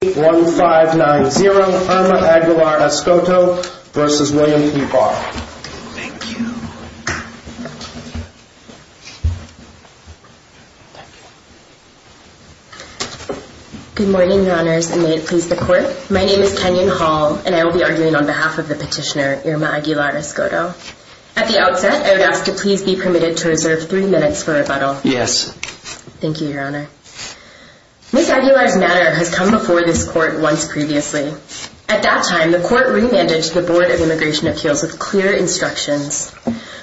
1590 Irma Aguilar-Escoto v. William P. Barr Good morning, your honors, and may it please the court. My name is Kenyon Hall, and I will be arguing on behalf of the petitioner, Irma Aguilar-Escoto. At the outset, I would ask to please be permitted to reserve three minutes for rebuttal. Yes. Thank you, your honor. Ms. Aguilar's matter has come before this court once previously. At that time, the court remanded to the Board of Immigration Appeals with clear instructions.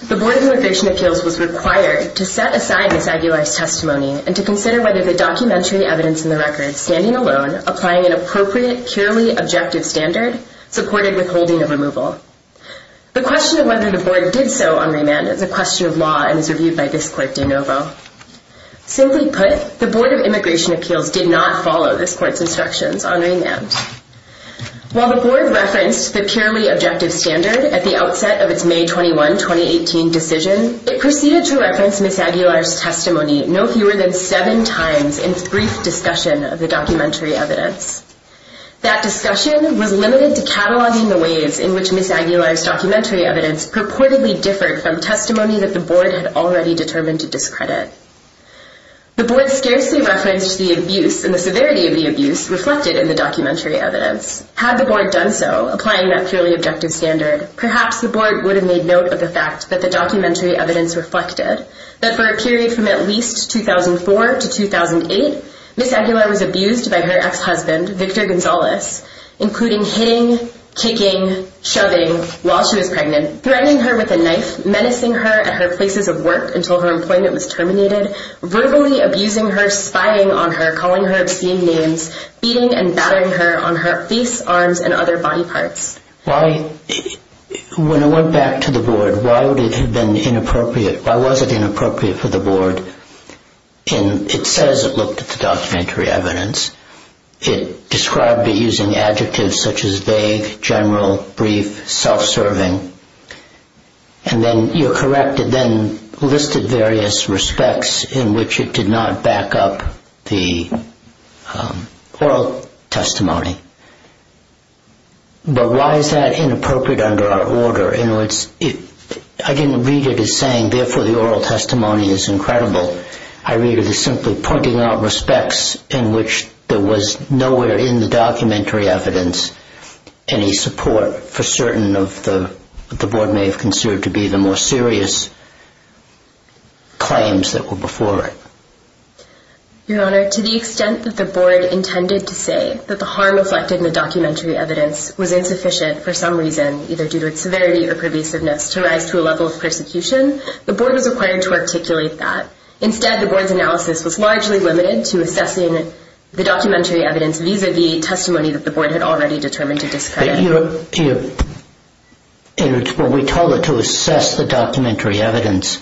The Board of Immigration Appeals was required to set aside Ms. Aguilar's testimony and to consider whether the documentary evidence in the record, standing alone, applying an appropriate, purely objective standard, supported withholding of removal. The question of whether the board did so on remand is a question of law and is reviewed by this court de novo. Simply put, the Board of Immigration Appeals did not follow this court's instructions on remand. While the board referenced the purely objective standard at the outset of its May 21, 2018 decision, it proceeded to reference Ms. Aguilar's testimony no fewer than seven times in its brief discussion of the documentary evidence. That discussion was limited to cataloging the ways in which Ms. Aguilar's documentary evidence purportedly differed from testimony that the board had already determined to discredit. The board scarcely referenced the abuse and the severity of the abuse reflected in the documentary evidence. Had the board done so, applying that purely objective standard, perhaps the board would have made note of the fact that the documentary evidence reflected that for a period from at least 2004 to 2008, Ms. Aguilar was abused by her ex-husband, Victor Gonzalez, including hitting, kicking, shoving while she was pregnant, threatening her with a knife, menacing her at her places of work until her employment was terminated, verbally abusing her, spying on her, calling her obscene names, beating and battering her on her face, arms, and other body parts. When I went back to the board, why would it have been inappropriate? Why was it inappropriate for the board? It says it looked at the documentary evidence. It described it using adjectives such as vague, general, brief, self-serving. And then you're correct, it then listed various respects in which it did not back up the oral testimony. But why is that inappropriate under our order? I didn't read it as saying, therefore, the oral testimony is incredible. I read it as simply pointing out respects in which there was nowhere in the documentary evidence any support for certain of what the board may have considered to be the more serious claims that were before it. Your Honor, to the extent that the board intended to say that the harm reflected in the documentary evidence was insufficient for some reason, either due to its severity or pervasiveness, to rise to a level of persecution, the board was required to articulate that. Instead, the board's analysis was largely limited to assessing the documentary evidence vis-à-vis testimony that the board had already determined to discredit. But your Honor, when we told it to assess the documentary evidence,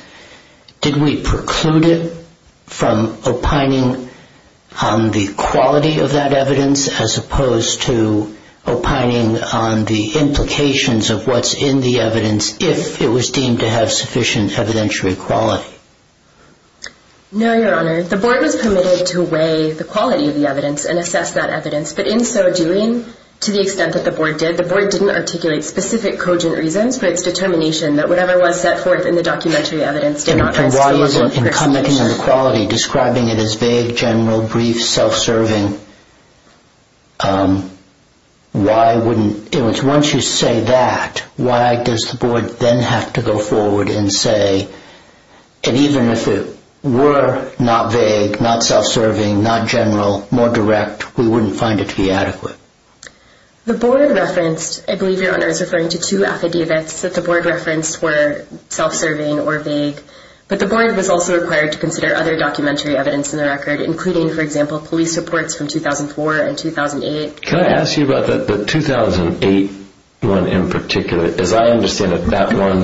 did we preclude it from opining on the quality of that evidence as opposed to opining on the implications of what's in the evidence if it was deemed to have sufficient evidentiary quality? No, your Honor. The board was permitted to weigh the quality of the evidence and assess that evidence. But in so doing, to the extent that the board did, the board didn't articulate specific cogent reasons for its determination that whatever was set forth in the documentary evidence did not rise to a level of persecution. And why, in commenting on the quality, describing it as vague, general, brief, self-serving, why wouldn't it? Once you say that, why does the board then have to go forward and say, and even if it were not vague, not self-serving, not general, more direct, we wouldn't find it to be adequate? The board referenced, I believe your Honor is referring to two affidavits that the board referenced were self-serving or vague. But the board was also required to consider other documentary evidence in the record, including, for example, police reports from 2004 and 2008. Can I ask you about the 2008 one in particular? As I understand it, that one,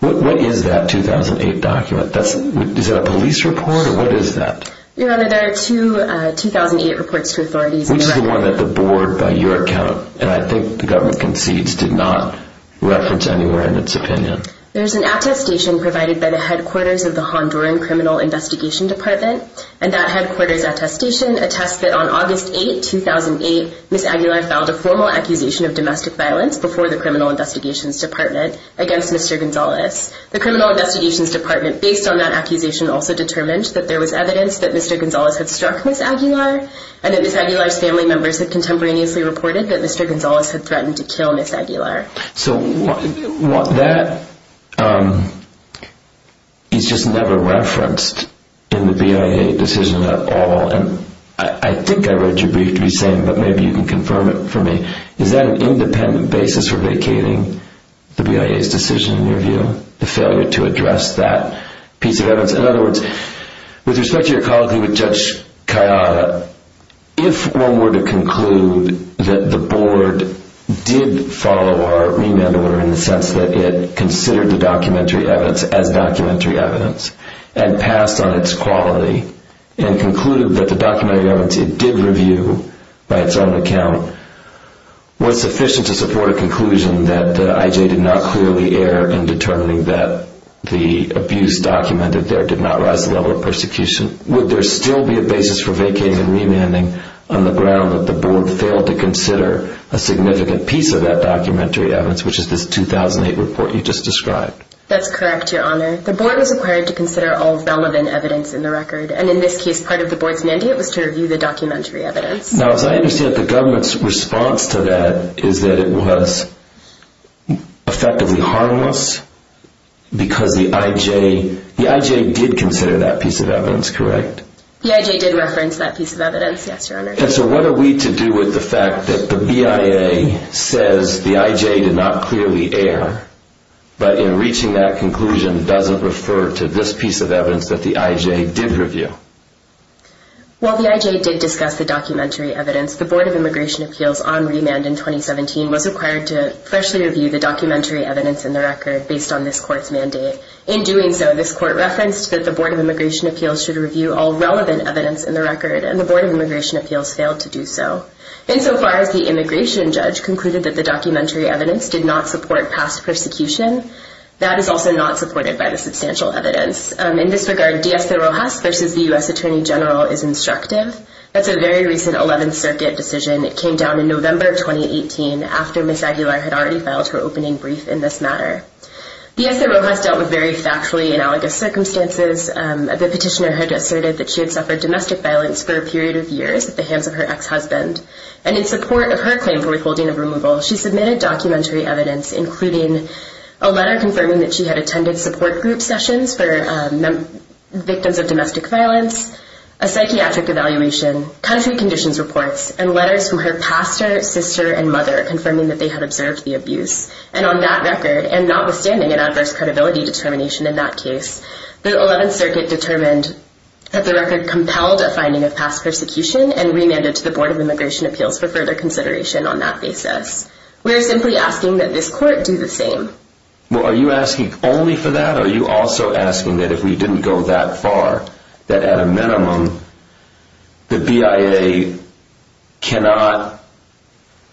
what is that 2008 document? Is that a police report, or what is that? Your Honor, there are two 2008 reports to authorities. Which is the one that the board, by your account, and I think the government concedes, did not reference anywhere in its opinion? There's an attestation provided by the headquarters of the Honduran Criminal Investigation Department, and that headquarters attestation attests that on August 8, 2008, Ms. Aguilar filed a formal accusation of domestic violence before the Criminal Investigations Department against Mr. Gonzalez. The Criminal Investigations Department, based on that accusation, also determined that there was evidence that Mr. Gonzalez had struck Ms. Aguilar, and that Ms. Aguilar's family members had contemporaneously reported that Mr. Gonzalez had threatened to kill Ms. Aguilar. So that is just never referenced in the BIA decision at all, and I think I read your brief to be the same, but maybe you can confirm it for me. Is that an independent basis for vacating the BIA's decision, in your view? The failure to address that piece of evidence? In other words, with respect to your colloquy with Judge Cayada, if one were to conclude that the board did follow our remand order in the sense that it considered the documentary evidence as documentary evidence, and passed on its quality, and concluded that the documentary evidence it did review, and that the IJ did not clearly err in determining that the abuse documented there did not rise to the level of persecution, would there still be a basis for vacating and remanding on the ground that the board failed to consider a significant piece of that documentary evidence, which is this 2008 report you just described? That's correct, Your Honor. The board was required to consider all relevant evidence in the record, and in this case, part of the board's mandate was to review the documentary evidence. Now, as I understand it, the government's response to that is that it was effectively harmless, because the IJ did consider that piece of evidence, correct? The IJ did reference that piece of evidence, yes, Your Honor. And so what are we to do with the fact that the BIA says the IJ did not clearly err, but in reaching that conclusion doesn't refer to this piece of evidence that the IJ did review? While the IJ did discuss the documentary evidence, the Board of Immigration Appeals on remand in 2017 was required to freshly review the documentary evidence in the record based on this court's mandate. In doing so, this court referenced that the Board of Immigration Appeals should review all relevant evidence in the record, and the Board of Immigration Appeals failed to do so. Insofar as the immigration judge concluded that the documentary evidence did not support past persecution, that is also not supported by the substantial evidence. In this regard, Diez de Rojas versus the U.S. Attorney General is instructive. That's a very recent 11th Circuit decision. It came down in November of 2018 after Ms. Aguilar had already filed her opening brief in this matter. Diez de Rojas dealt with very factually analogous circumstances. The petitioner had asserted that she had suffered domestic violence for a period of years at the hands of her ex-husband, and in support of her claim for withholding of removal, she submitted documentary evidence, including a letter confirming that she had attended support group sessions for victims of domestic violence, a psychiatric evaluation, country conditions reports, and letters from her pastor, sister, and mother confirming that they had observed the abuse. And on that record, and notwithstanding an adverse credibility determination in that case, the 11th Circuit determined that the record compelled a finding of past persecution and remanded to the Board of Immigration Appeals for further consideration on that basis. We are simply asking that this court do the same. Well, are you asking only for that? Or are you also asking that if we didn't go that far, that at a minimum, the BIA cannot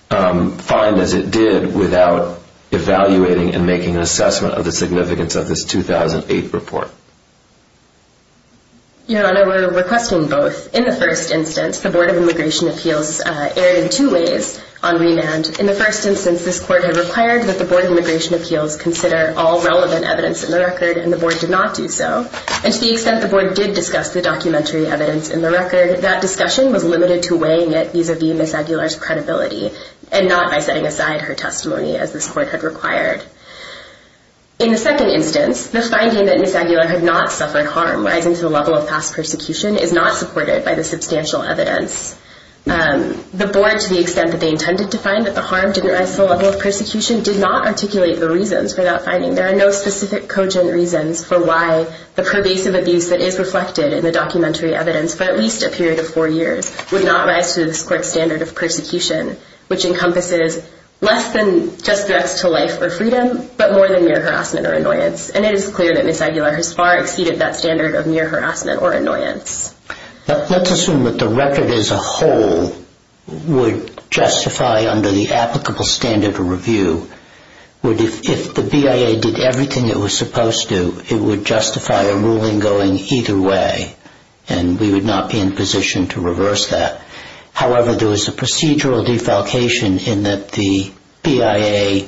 find as it did without evaluating and making an assessment of the significance of this 2008 report? Your Honor, we're requesting both. In the first instance, the Board of Immigration Appeals erred in two ways on remand. In the first instance, this court had required that the Board of Immigration Appeals consider all relevant evidence in the record, and the Board did not do so. And to the extent the Board did discuss the documentary evidence in the record, that discussion was limited to weighing it vis-a-vis Ms. Aguilar's credibility and not by setting aside her testimony as this court had required. In the second instance, the finding that Ms. Aguilar had not suffered harm rising to the level of past persecution is not supported by the substantial evidence. The Board, to the extent that they intended to find that the harm didn't rise to the level of persecution, did not articulate the reasons for that finding. There are no specific cogent reasons for why the pervasive abuse that is reflected in the documentary evidence for at least a period of four years would not rise to this court's standard of persecution, which encompasses less than just threats to life or freedom, but more than mere harassment or annoyance. And it is clear that Ms. Aguilar has far exceeded that standard of mere harassment or annoyance. Let's assume that the record as a whole would justify, under the applicable standard of review, if the BIA did everything it was supposed to, it would justify a ruling going either way, and we would not be in a position to reverse that. However, there was a procedural defalcation in that the BIA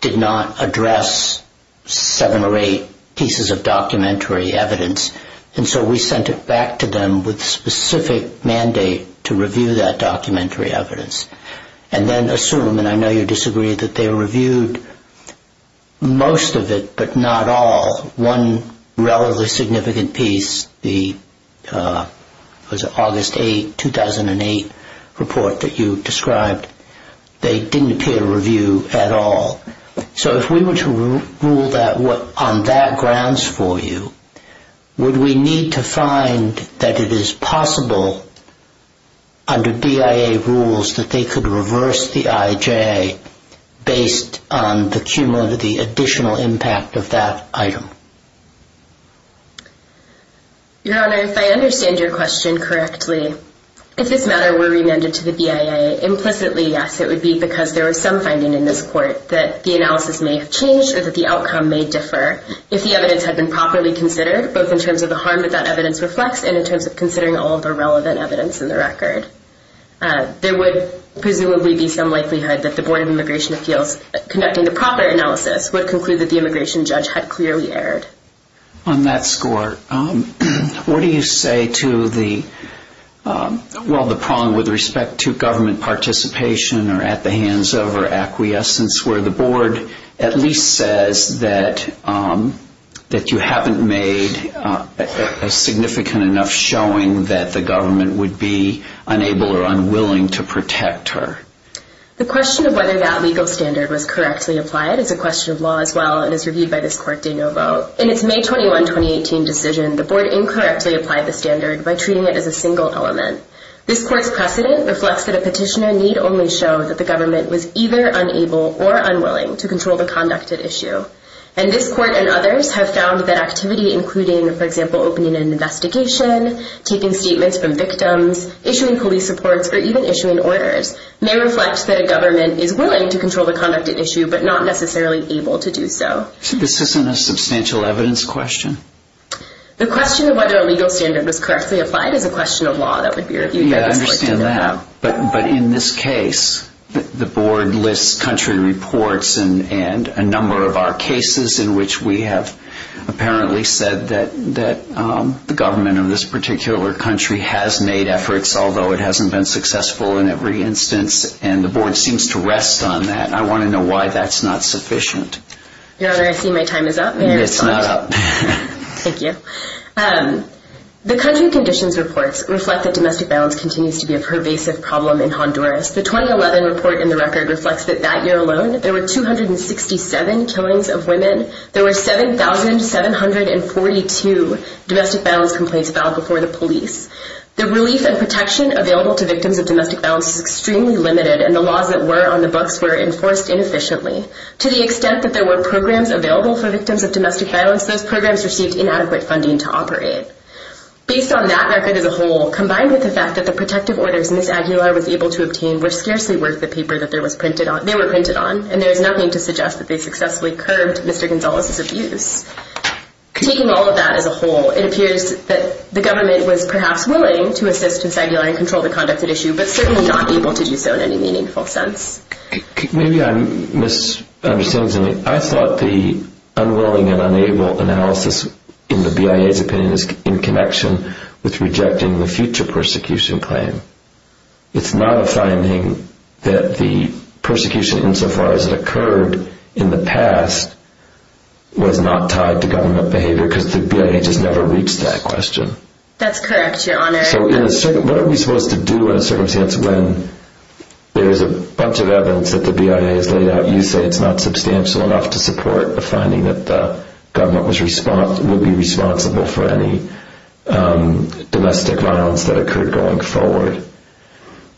did not address seven or eight pieces of documentary evidence, and so we sent it back to them with a specific mandate to review that documentary evidence. And then assume, and I know you disagree, that they reviewed most of it, but not all, one relatively significant piece, the August 8, 2008 report that you described, they didn't appear to review at all. So if we were to rule on that grounds for you, would we need to find that it is possible under BIA rules that they could reverse the IJA based on the cumulative, the additional impact of that item? Your Honor, if I understand your question correctly, if this matter were remanded to the BIA, implicitly, yes, it would be because there was some finding in this court that the analysis may have changed or that the outcome may differ if the evidence had been properly considered, both in terms of the harm that that evidence reflects and in terms of considering all of the relevant evidence in the record. There would presumably be some likelihood that the Board of Immigration Appeals, conducting the proper analysis, would conclude that the immigration judge had clearly erred. On that score, what do you say to the, well, the prong with respect to government participation or at the hands of or acquiescence where the board at least says that you haven't made a significant enough showing that the government would be unable or unwilling to protect her? The question of whether that legal standard was correctly applied is a question of law as well and is reviewed by this court de novo. In its May 21, 2018 decision, the board incorrectly applied the standard by treating it as a single element. This court's precedent reflects that a petitioner need only show that the government was either unable or unwilling to control the conducted issue. And this court and others have found that activity including, for example, opening an investigation, taking statements from victims, issuing police reports, or even issuing orders, may reflect that a government is willing to control the conducted issue but not necessarily able to do so. So this isn't a substantial evidence question? The question of whether a legal standard was correctly applied is a question of law that would be reviewed by this court de novo. But in this case, the board lists country reports and a number of our cases in which we have apparently said that the government of this particular country has made efforts, although it hasn't been successful in every instance, and the board seems to rest on that. I want to know why that's not sufficient. Your Honor, I see my time is up. It's not up. Thank you. The country conditions reports reflect that domestic violence continues to be a pervasive problem in Honduras. The 2011 report in the record reflects that that year alone there were 267 killings of women. There were 7,742 domestic violence complaints filed before the police. The relief and protection available to victims of domestic violence is extremely limited, and the laws that were on the books were enforced inefficiently. To the extent that there were programs available for victims of domestic violence, those programs received inadequate funding to operate. Based on that record as a whole, combined with the fact that the protective orders Ms. Aguilar was able to obtain were scarcely worth the paper that they were printed on, and there is nothing to suggest that they successfully curbed Mr. Gonzalez's abuse. Taking all of that as a whole, it appears that the government was perhaps willing to assist Ms. Aguilar and control the conducted issue, but certainly not able to do so in any meaningful sense. Maybe I'm misunderstanding. I thought the unwilling and unable analysis in the BIA's opinion is in connection with rejecting the future persecution claim. It's not a finding that the persecution insofar as it occurred in the past was not tied to government behavior, because the BIA has never reached that question. That's correct, Your Honor. So what are we supposed to do in a circumstance when there is a bunch of evidence that the BIA has laid out, and you say it's not substantial enough to support the finding that the government would be responsible for any domestic violence that occurred going forward.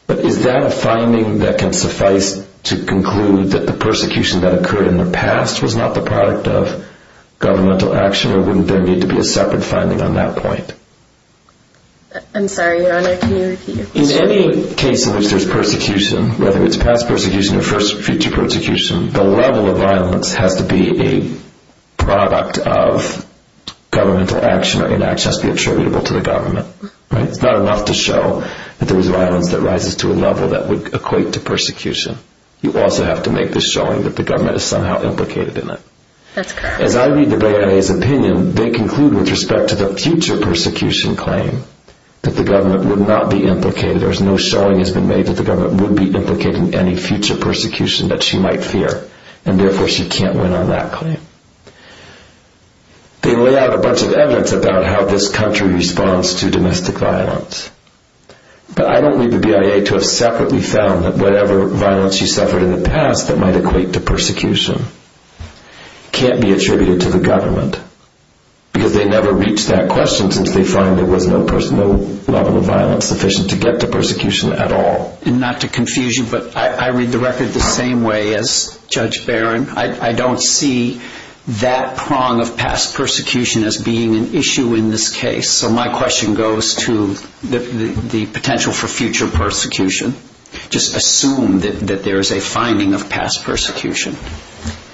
But is that a finding that can suffice to conclude that the persecution that occurred in the past was not the product of governmental action, or wouldn't there need to be a separate finding on that point? I'm sorry, Your Honor, can you repeat your question? In any case in which there's persecution, whether it's past persecution or future persecution, the level of violence has to be a product of governmental action, or inaction has to be attributable to the government. It's not enough to show that there was violence that rises to a level that would equate to persecution. You also have to make this showing that the government is somehow implicated in it. That's correct. As I read the BIA's opinion, they conclude with respect to the future persecution claim that the government would not be implicated, there's no showing that has been made that the government would be implicated in any future persecution that she might fear, and therefore she can't win on that claim. They lay out a bunch of evidence about how this country responds to domestic violence. But I don't need the BIA to have separately found that whatever violence she suffered in the past that might equate to persecution can't be attributed to the government, because they never reached that question since they find there was no level of violence sufficient to get to persecution at all. And not to confuse you, but I read the record the same way as Judge Barron. I don't see that prong of past persecution as being an issue in this case. So my question goes to the potential for future persecution. Just assume that there is a finding of past persecution.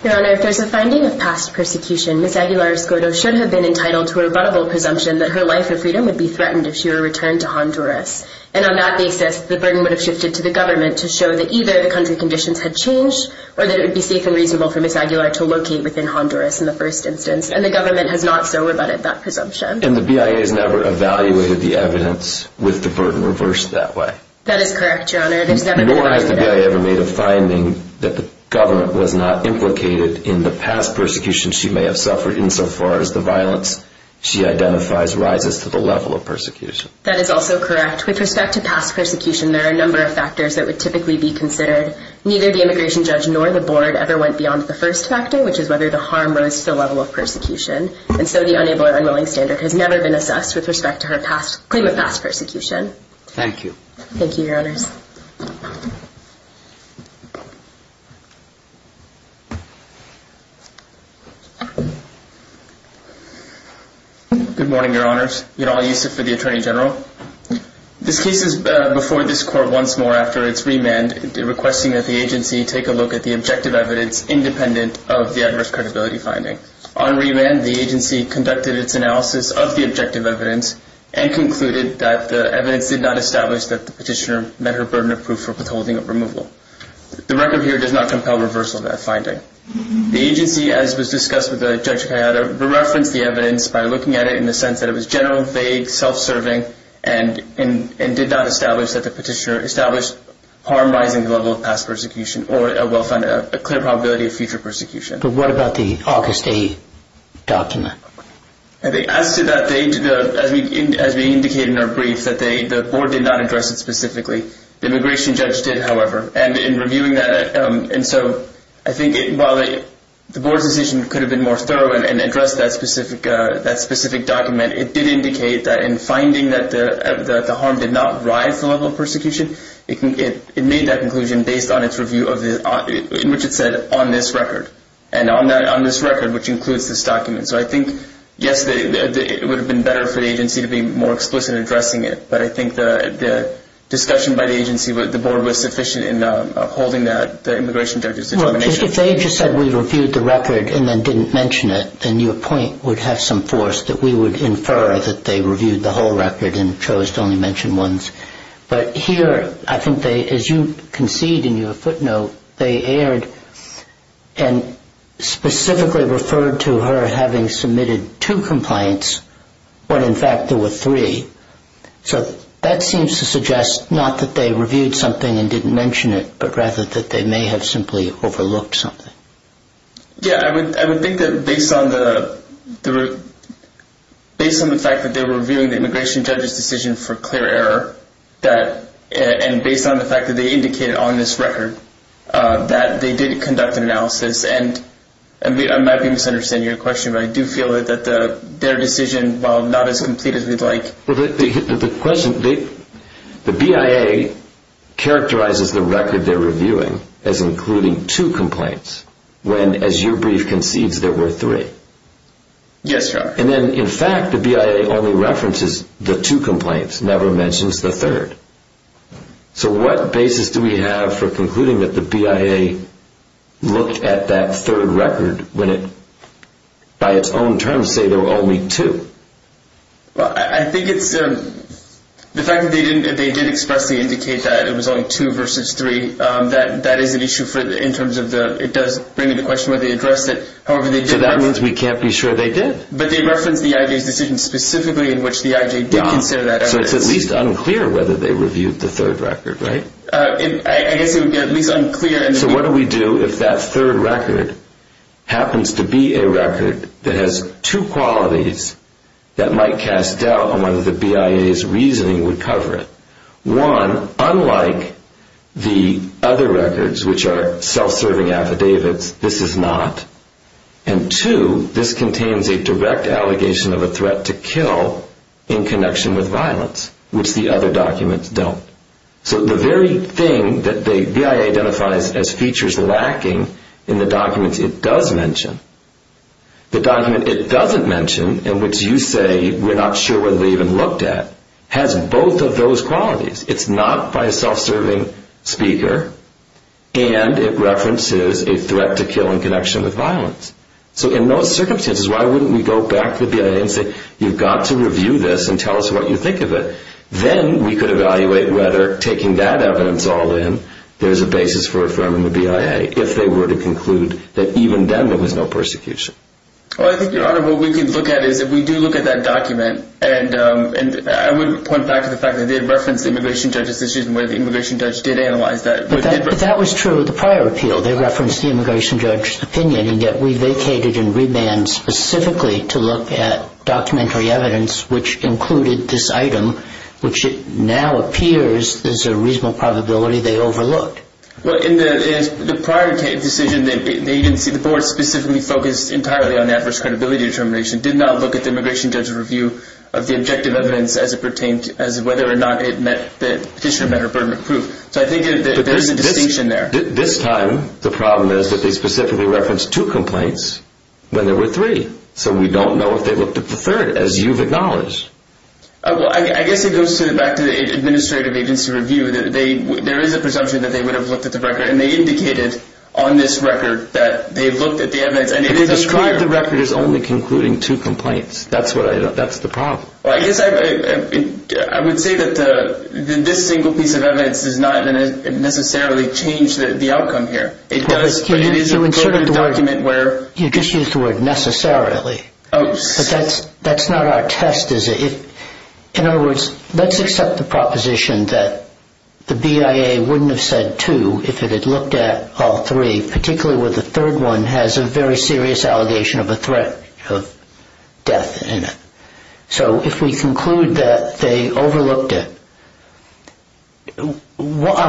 Your Honor, if there's a finding of past persecution, Ms. Aguilar-Escoto should have been entitled to a rebuttable presumption that her life of freedom would be threatened if she were returned to Honduras. And on that basis, the burden would have shifted to the government to show that either the country conditions had changed or that it would be safe and reasonable for Ms. Aguilar to locate within Honduras in the first instance. And the government has not so rebutted that presumption. And the BIA has never evaluated the evidence with the burden reversed that way. That is correct, Your Honor. Nor has the BIA ever made a finding that the government was not implicated in the past persecution she may have suffered insofar as the violence she identifies rises to the level of persecution. That is also correct. With respect to past persecution, there are a number of factors that would typically be considered. Neither the immigration judge nor the board ever went beyond the first factor, which is whether the harm rose to the level of persecution. And so the unable or unwilling standard has never been assessed with respect to her claim of past persecution. Thank you. Thank you, Your Honors. Good morning, Your Honors. Yadal Yusuf for the Attorney General. This case is before this Court once more after its remand, requesting that the agency take a look at the objective evidence independent of the adverse credibility finding. On remand, the agency conducted its analysis of the objective evidence and concluded that the evidence did not establish that the petitioner met her burden of proof for withholding of removal. The record here does not compel reversal of that finding. The agency, as was discussed with Judge Kayada, referenced the evidence by looking at it in the sense that it was general, vague, self-serving, and did not establish that the petitioner established harm rising to the level of past persecution or a clear probability of future persecution. But what about the August 8th document? As to that date, as we indicated in our brief, the Board did not address it specifically. The immigration judge did, however, and in reviewing that, and so I think while the Board's decision could have been more thorough and addressed that specific document, it did indicate that in finding that the harm did not rise to the level of persecution, it made that conclusion based on its review in which it said on this record, and on this record, which includes this document. So I think, yes, it would have been better for the agency to be more explicit in addressing it, but I think the discussion by the agency, the Board was sufficient in upholding that, the immigration judge's determination. Well, if they just said we reviewed the record and then didn't mention it, then your point would have some force that we would infer that they reviewed the whole record and chose to only mention ones. But here, I think they, as you concede in your footnote, they aired and specifically referred to her having submitted two complaints when, in fact, there were three. So that seems to suggest not that they reviewed something and didn't mention it, but rather that they may have simply overlooked something. Yes, I would think that based on the fact that they were reviewing the immigration judge's decision for clear error, and based on the fact that they indicated on this record that they did conduct an analysis, and I might be misunderstanding your question, but I do feel that their decision, while not as complete as we'd like. Well, the question, the BIA characterizes the record they're reviewing as including two complaints when, as your brief concedes, there were three. Yes, Your Honor. And then, in fact, the BIA only references the two complaints, never mentions the third. So what basis do we have for concluding that the BIA looked at that third record when it, by its own terms, say there were only two? Well, I think it's the fact that they did expressly indicate that it was only two versus three. That is an issue in terms of it does bring into question why they addressed it. So that means we can't be sure they did. But they referenced the IJ's decision specifically in which the IJ did consider that evidence. So it's at least unclear whether they reviewed the third record, right? I guess it would be at least unclear. So what do we do if that third record happens to be a record that has two qualities that might cast doubt on whether the BIA's reasoning would cover it? One, unlike the other records, which are self-serving affidavits, this is not. And two, this contains a direct allegation of a threat to kill in connection with violence, which the other documents don't. So the very thing that the BIA identifies as features lacking in the documents it does mention, the document it doesn't mention, in which you say we're not sure whether they even looked at, has both of those qualities. It's not by a self-serving speaker, and it references a threat to kill in connection with violence. So in those circumstances, why wouldn't we go back to the BIA and say you've got to review this and tell us what you think of it. Then we could evaluate whether taking that evidence all in, there's a basis for affirming the BIA, if they were to conclude that even then there was no persecution. Well, I think, Your Honor, what we could look at is if we do look at that document, and I would point back to the fact that they had referenced the immigration judge's decision where the immigration judge did analyze that. But that was true of the prior appeal. They referenced the immigration judge's opinion, and yet we vacated and rebanned specifically to look at documentary evidence, which included this item, which now appears there's a reasonable probability they overlooked. Well, in the prior decision, the board specifically focused entirely on adverse credibility determination, did not look at the immigration judge's review of the objective evidence as it pertained to whether or not the petitioner met her burden of proof. So I think there's a distinction there. This time, the problem is that they specifically referenced two complaints when there were three. So we don't know if they looked at the third, as you've acknowledged. Well, I guess it goes back to the administrative agency review. There is a presumption that they would have looked at the record, and they indicated on this record that they looked at the evidence. But they described the record as only concluding two complaints. That's the problem. Well, I guess I would say that this single piece of evidence does not necessarily change the outcome here. It does, but it is a burden document where— You just used the word necessarily. Oh, sorry. But that's not our test, is it? In other words, let's accept the proposition that the BIA wouldn't have said two if it had looked at all three, particularly where the third one has a very serious allegation of a threat of death in it. So if we conclude that they overlooked it, on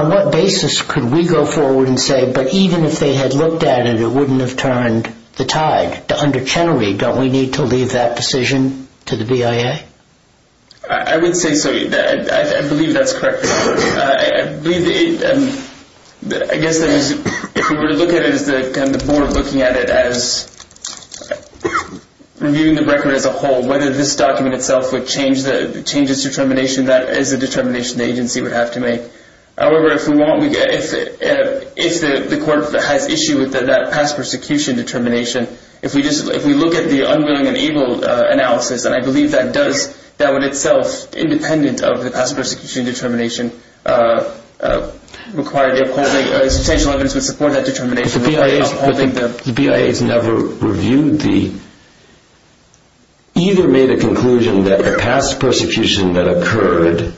what basis could we go forward and say, but even if they had looked at it, it wouldn't have turned the tide? Don't we need to leave that decision to the BIA? I would say so. I believe that's correct. I guess if we were to look at it as the board looking at it as reviewing the record as a whole, whether this document itself would change its determination, that is a determination the agency would have to make. However, if the court has issue with that past persecution determination, if we look at the unwilling and able analysis, and I believe that does, that would itself, independent of the past persecution determination, require the upholding—substantial evidence would support that determination. If the BIA has never reviewed the—either made a conclusion that the past persecution that occurred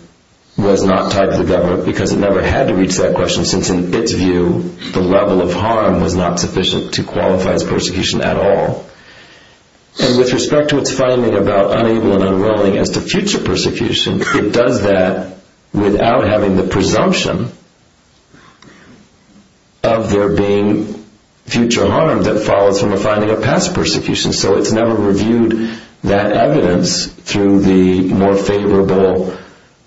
was not tied to the government, because it never had to reach that question, since in its view the level of harm was not sufficient to qualify as persecution at all. And with respect to its finding about unable and unwilling as to future persecution, it does that without having the presumption of there being future harm that follows from a finding of past persecution. So it's never reviewed that evidence through the more favorable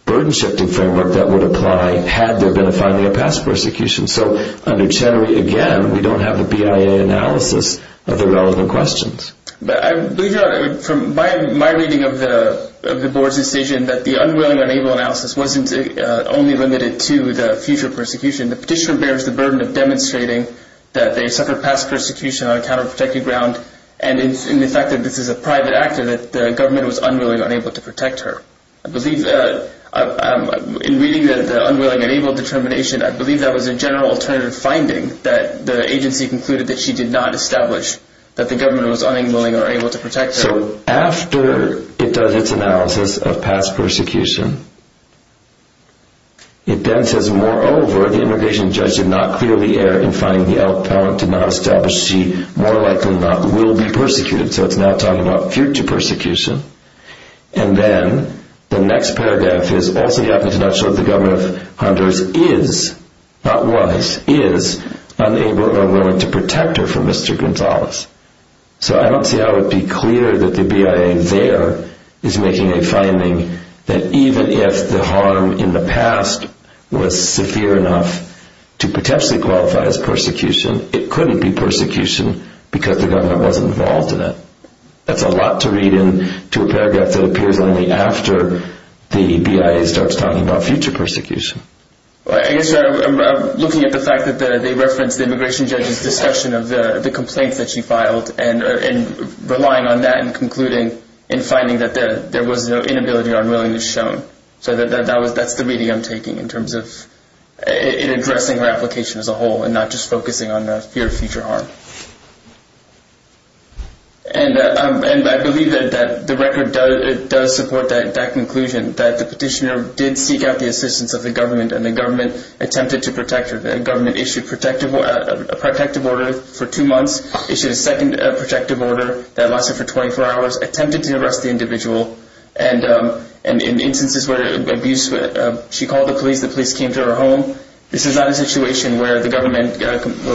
burden-shifting framework that would apply had there been a finding of past persecution. So under Chenery, again, we don't have the BIA analysis of the relevant questions. But I believe, from my reading of the board's decision, that the unwilling and unable analysis wasn't only limited to the future persecution. The petitioner bears the burden of demonstrating that they suffered past persecution on a counter-protective ground, and in the fact that this is a private actor, that the government was unwilling or unable to protect her. I believe that—in reading the unwilling and unable determination, I believe that was a general alternative finding, that the agency concluded that she did not establish that the government was unwilling or unable to protect her. So after it does its analysis of past persecution, it then says, Moreover, the immigration judge did not clearly err in finding the outpouring to not establish she more likely than not will be persecuted. So it's now talking about future persecution. And then the next paragraph is, Also, he happens to not show that the government of Honduras is, not was, is unable or unwilling to protect her from Mr. Gonzalez. So I don't see how it would be clear that the BIA there is making a finding that even if the harm in the past was severe enough to potentially qualify as persecution, it couldn't be persecution because the government wasn't involved in it. That's a lot to read into a paragraph that appears only after the BIA starts talking about future persecution. I guess I'm looking at the fact that they reference the immigration judge's discussion of the complaints that she filed, and relying on that in concluding and finding that there was no inability or unwillingness shown. So that's the reading I'm taking in terms of addressing her application as a whole and not just focusing on fear of future harm. And I believe that the record does support that conclusion, that the petitioner did seek out the assistance of the government, and the government attempted to protect her. The government issued a protective order for two months, issued a second protective order that lasted for 24 hours, attempted to arrest the individual, and in instances where she called the police, the police came to her home. This is not a situation where the government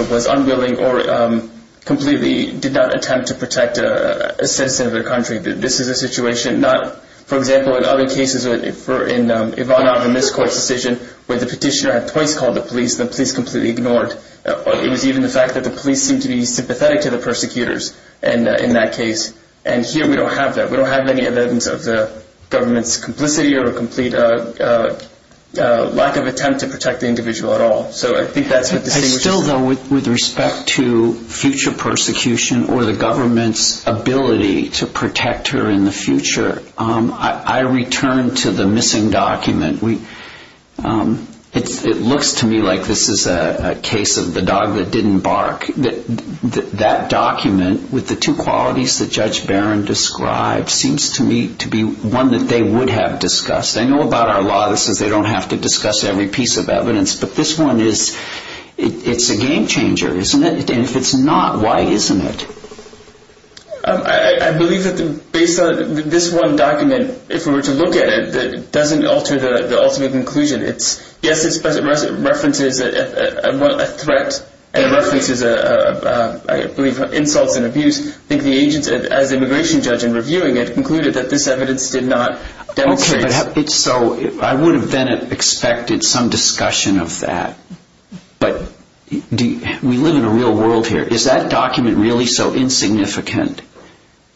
was unwilling or completely did not attempt to protect a citizen of their country. This is a situation not, for example, in other cases, if I'm not in this court's decision where the petitioner had twice called the police, the police completely ignored. It was even the fact that the police seemed to be sympathetic to the persecutors in that case. And here we don't have that. We don't have any evidence of the government's complicity or a complete lack of attempt to protect the individual at all. So I think that's what distinguishes it. I still, though, with respect to future persecution or the government's ability to protect her in the future, I return to the missing document. It looks to me like this is a case of the dog that didn't bark. That document with the two qualities that Judge Barron described seems to me to be one that they would have discussed. I know about our law that says they don't have to discuss every piece of evidence, but this one is, it's a game changer, isn't it? And if it's not, why isn't it? I believe that based on this one document, if we were to look at it, it doesn't alter the ultimate conclusion. Yes, it references a threat and it references, I believe, insults and abuse. I think the agents, as the immigration judge in reviewing it, concluded that this evidence did not demonstrate. Okay, so I would have then expected some discussion of that. But we live in a real world here. Is that document really so insignificant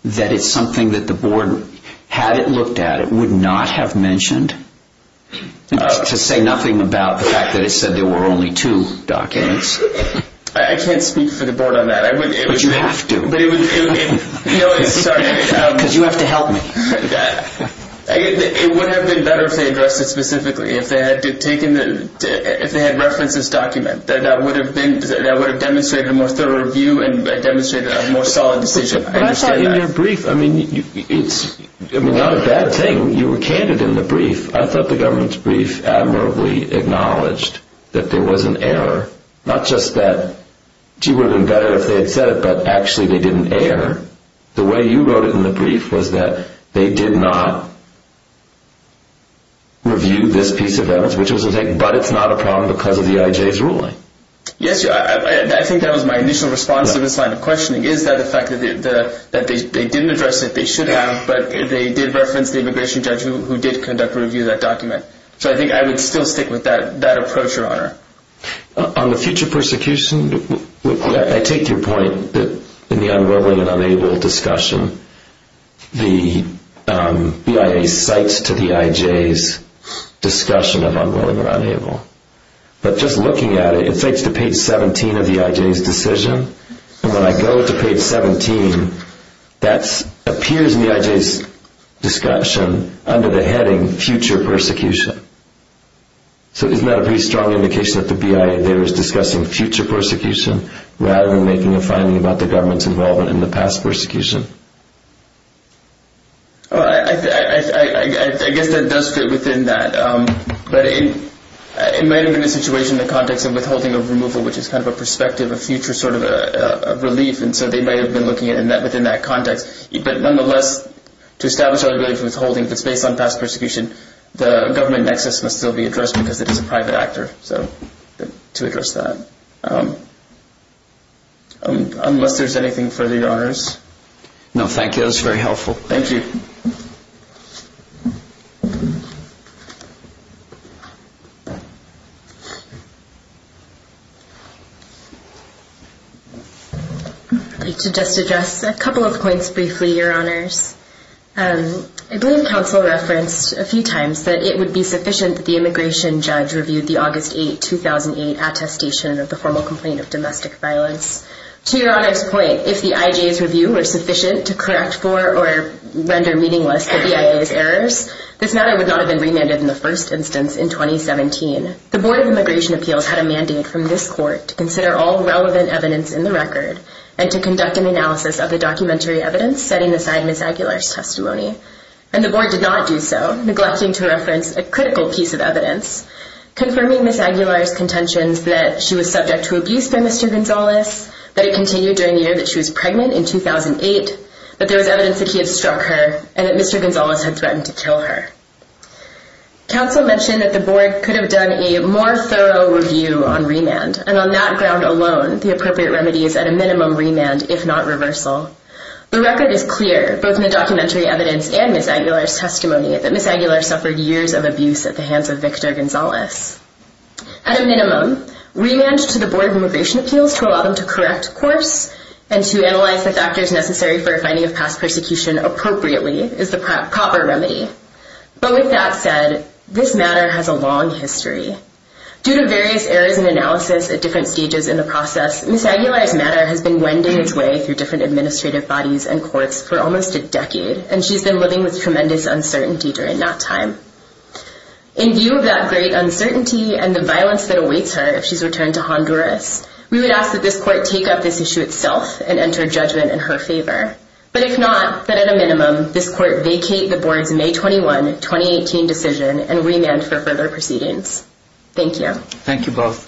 that it's something that the board, had it looked at, would not have mentioned? To say nothing about the fact that it said there were only two documents. I can't speak for the board on that. But you have to. No, sorry. Because you have to help me. It would have been better if they addressed it specifically, if they had referenced this document. That would have demonstrated a more thorough review and demonstrated a more solid decision. I understand that. But I thought in your brief, I mean, it's not a bad thing. You were candid in the brief. I thought the government's brief admirably acknowledged that there was an error. Not just that, gee, it would have been better if they had said it, but actually they did an error. The way you wrote it in the brief was that they did not review this piece of evidence, which was a thing. But it's not a problem because of the IJ's ruling. Yes, I think that was my initial response to this line of questioning, is that the fact that they didn't address it, they should have, but they did reference the immigration judge who did conduct a review of that document. So I think I would still stick with that approach, Your Honor. On the future persecution, I take your point that in the unwilling and unable discussion, the BIA cites to the IJ's discussion of unwilling or unable. But just looking at it, it cites to page 17 of the IJ's decision. And when I go to page 17, that appears in the IJ's discussion under the heading future persecution. So isn't that a pretty strong indication that the BIA there is discussing future persecution rather than making a finding about the government's involvement in the past persecution? I guess that does fit within that. But it may have been a situation in the context of withholding of removal, which is kind of a perspective, a future sort of relief, and so they may have been looking at it within that context. But nonetheless, to establish our ability to withholding, if it's based on past persecution, the government nexus must still be addressed because it is a private actor. So to address that. Unless there's anything further, Your Honors. No, thank you. That was very helpful. Thank you. I'd like to just address a couple of points briefly, Your Honors. I believe counsel referenced a few times that it would be sufficient that the immigration judge reviewed the August 8, 2008 attestation of the formal complaint of domestic violence. To Your Honor's point, if the IJ's review were sufficient to correct for or render meaningless the BIA's errors, this matter would not have been remanded in the first instance in 2017. The Board of Immigration Appeals had a mandate from this court to consider all relevant evidence in the record and to conduct an analysis of the documentary evidence setting aside Ms. Aguilar's testimony. And the board did not do so, neglecting to reference a critical piece of evidence, confirming Ms. Aguilar's contentions that she was subject to abuse by Mr. Gonzalez, that it continued during the year that she was pregnant in 2008, that there was evidence that he had struck her, and that Mr. Gonzalez had threatened to kill her. Counsel mentioned that the board could have done a more thorough review on remand, and on that ground alone, the appropriate remedy is at a minimum remand, if not reversal. The record is clear, both in the documentary evidence and Ms. Aguilar's testimony, that Ms. Aguilar suffered years of abuse at the hands of Victor Gonzalez. At a minimum, remand to the Board of Immigration Appeals to allow them to correct course and to analyze the factors necessary for a finding of past persecution appropriately is the proper remedy. But with that said, this matter has a long history. Due to various errors in analysis at different stages in the process, Ms. Aguilar's matter has been wending its way through different administrative bodies and courts for almost a decade, and she's been living with tremendous uncertainty during that time. In view of that great uncertainty and the violence that awaits her if she's returned to Honduras, we would ask that this court take up this issue itself and enter judgment in her favor. But if not, then at a minimum, this court vacate the Board's May 21, 2018 decision and remand for further proceedings. Thank you. Thank you both.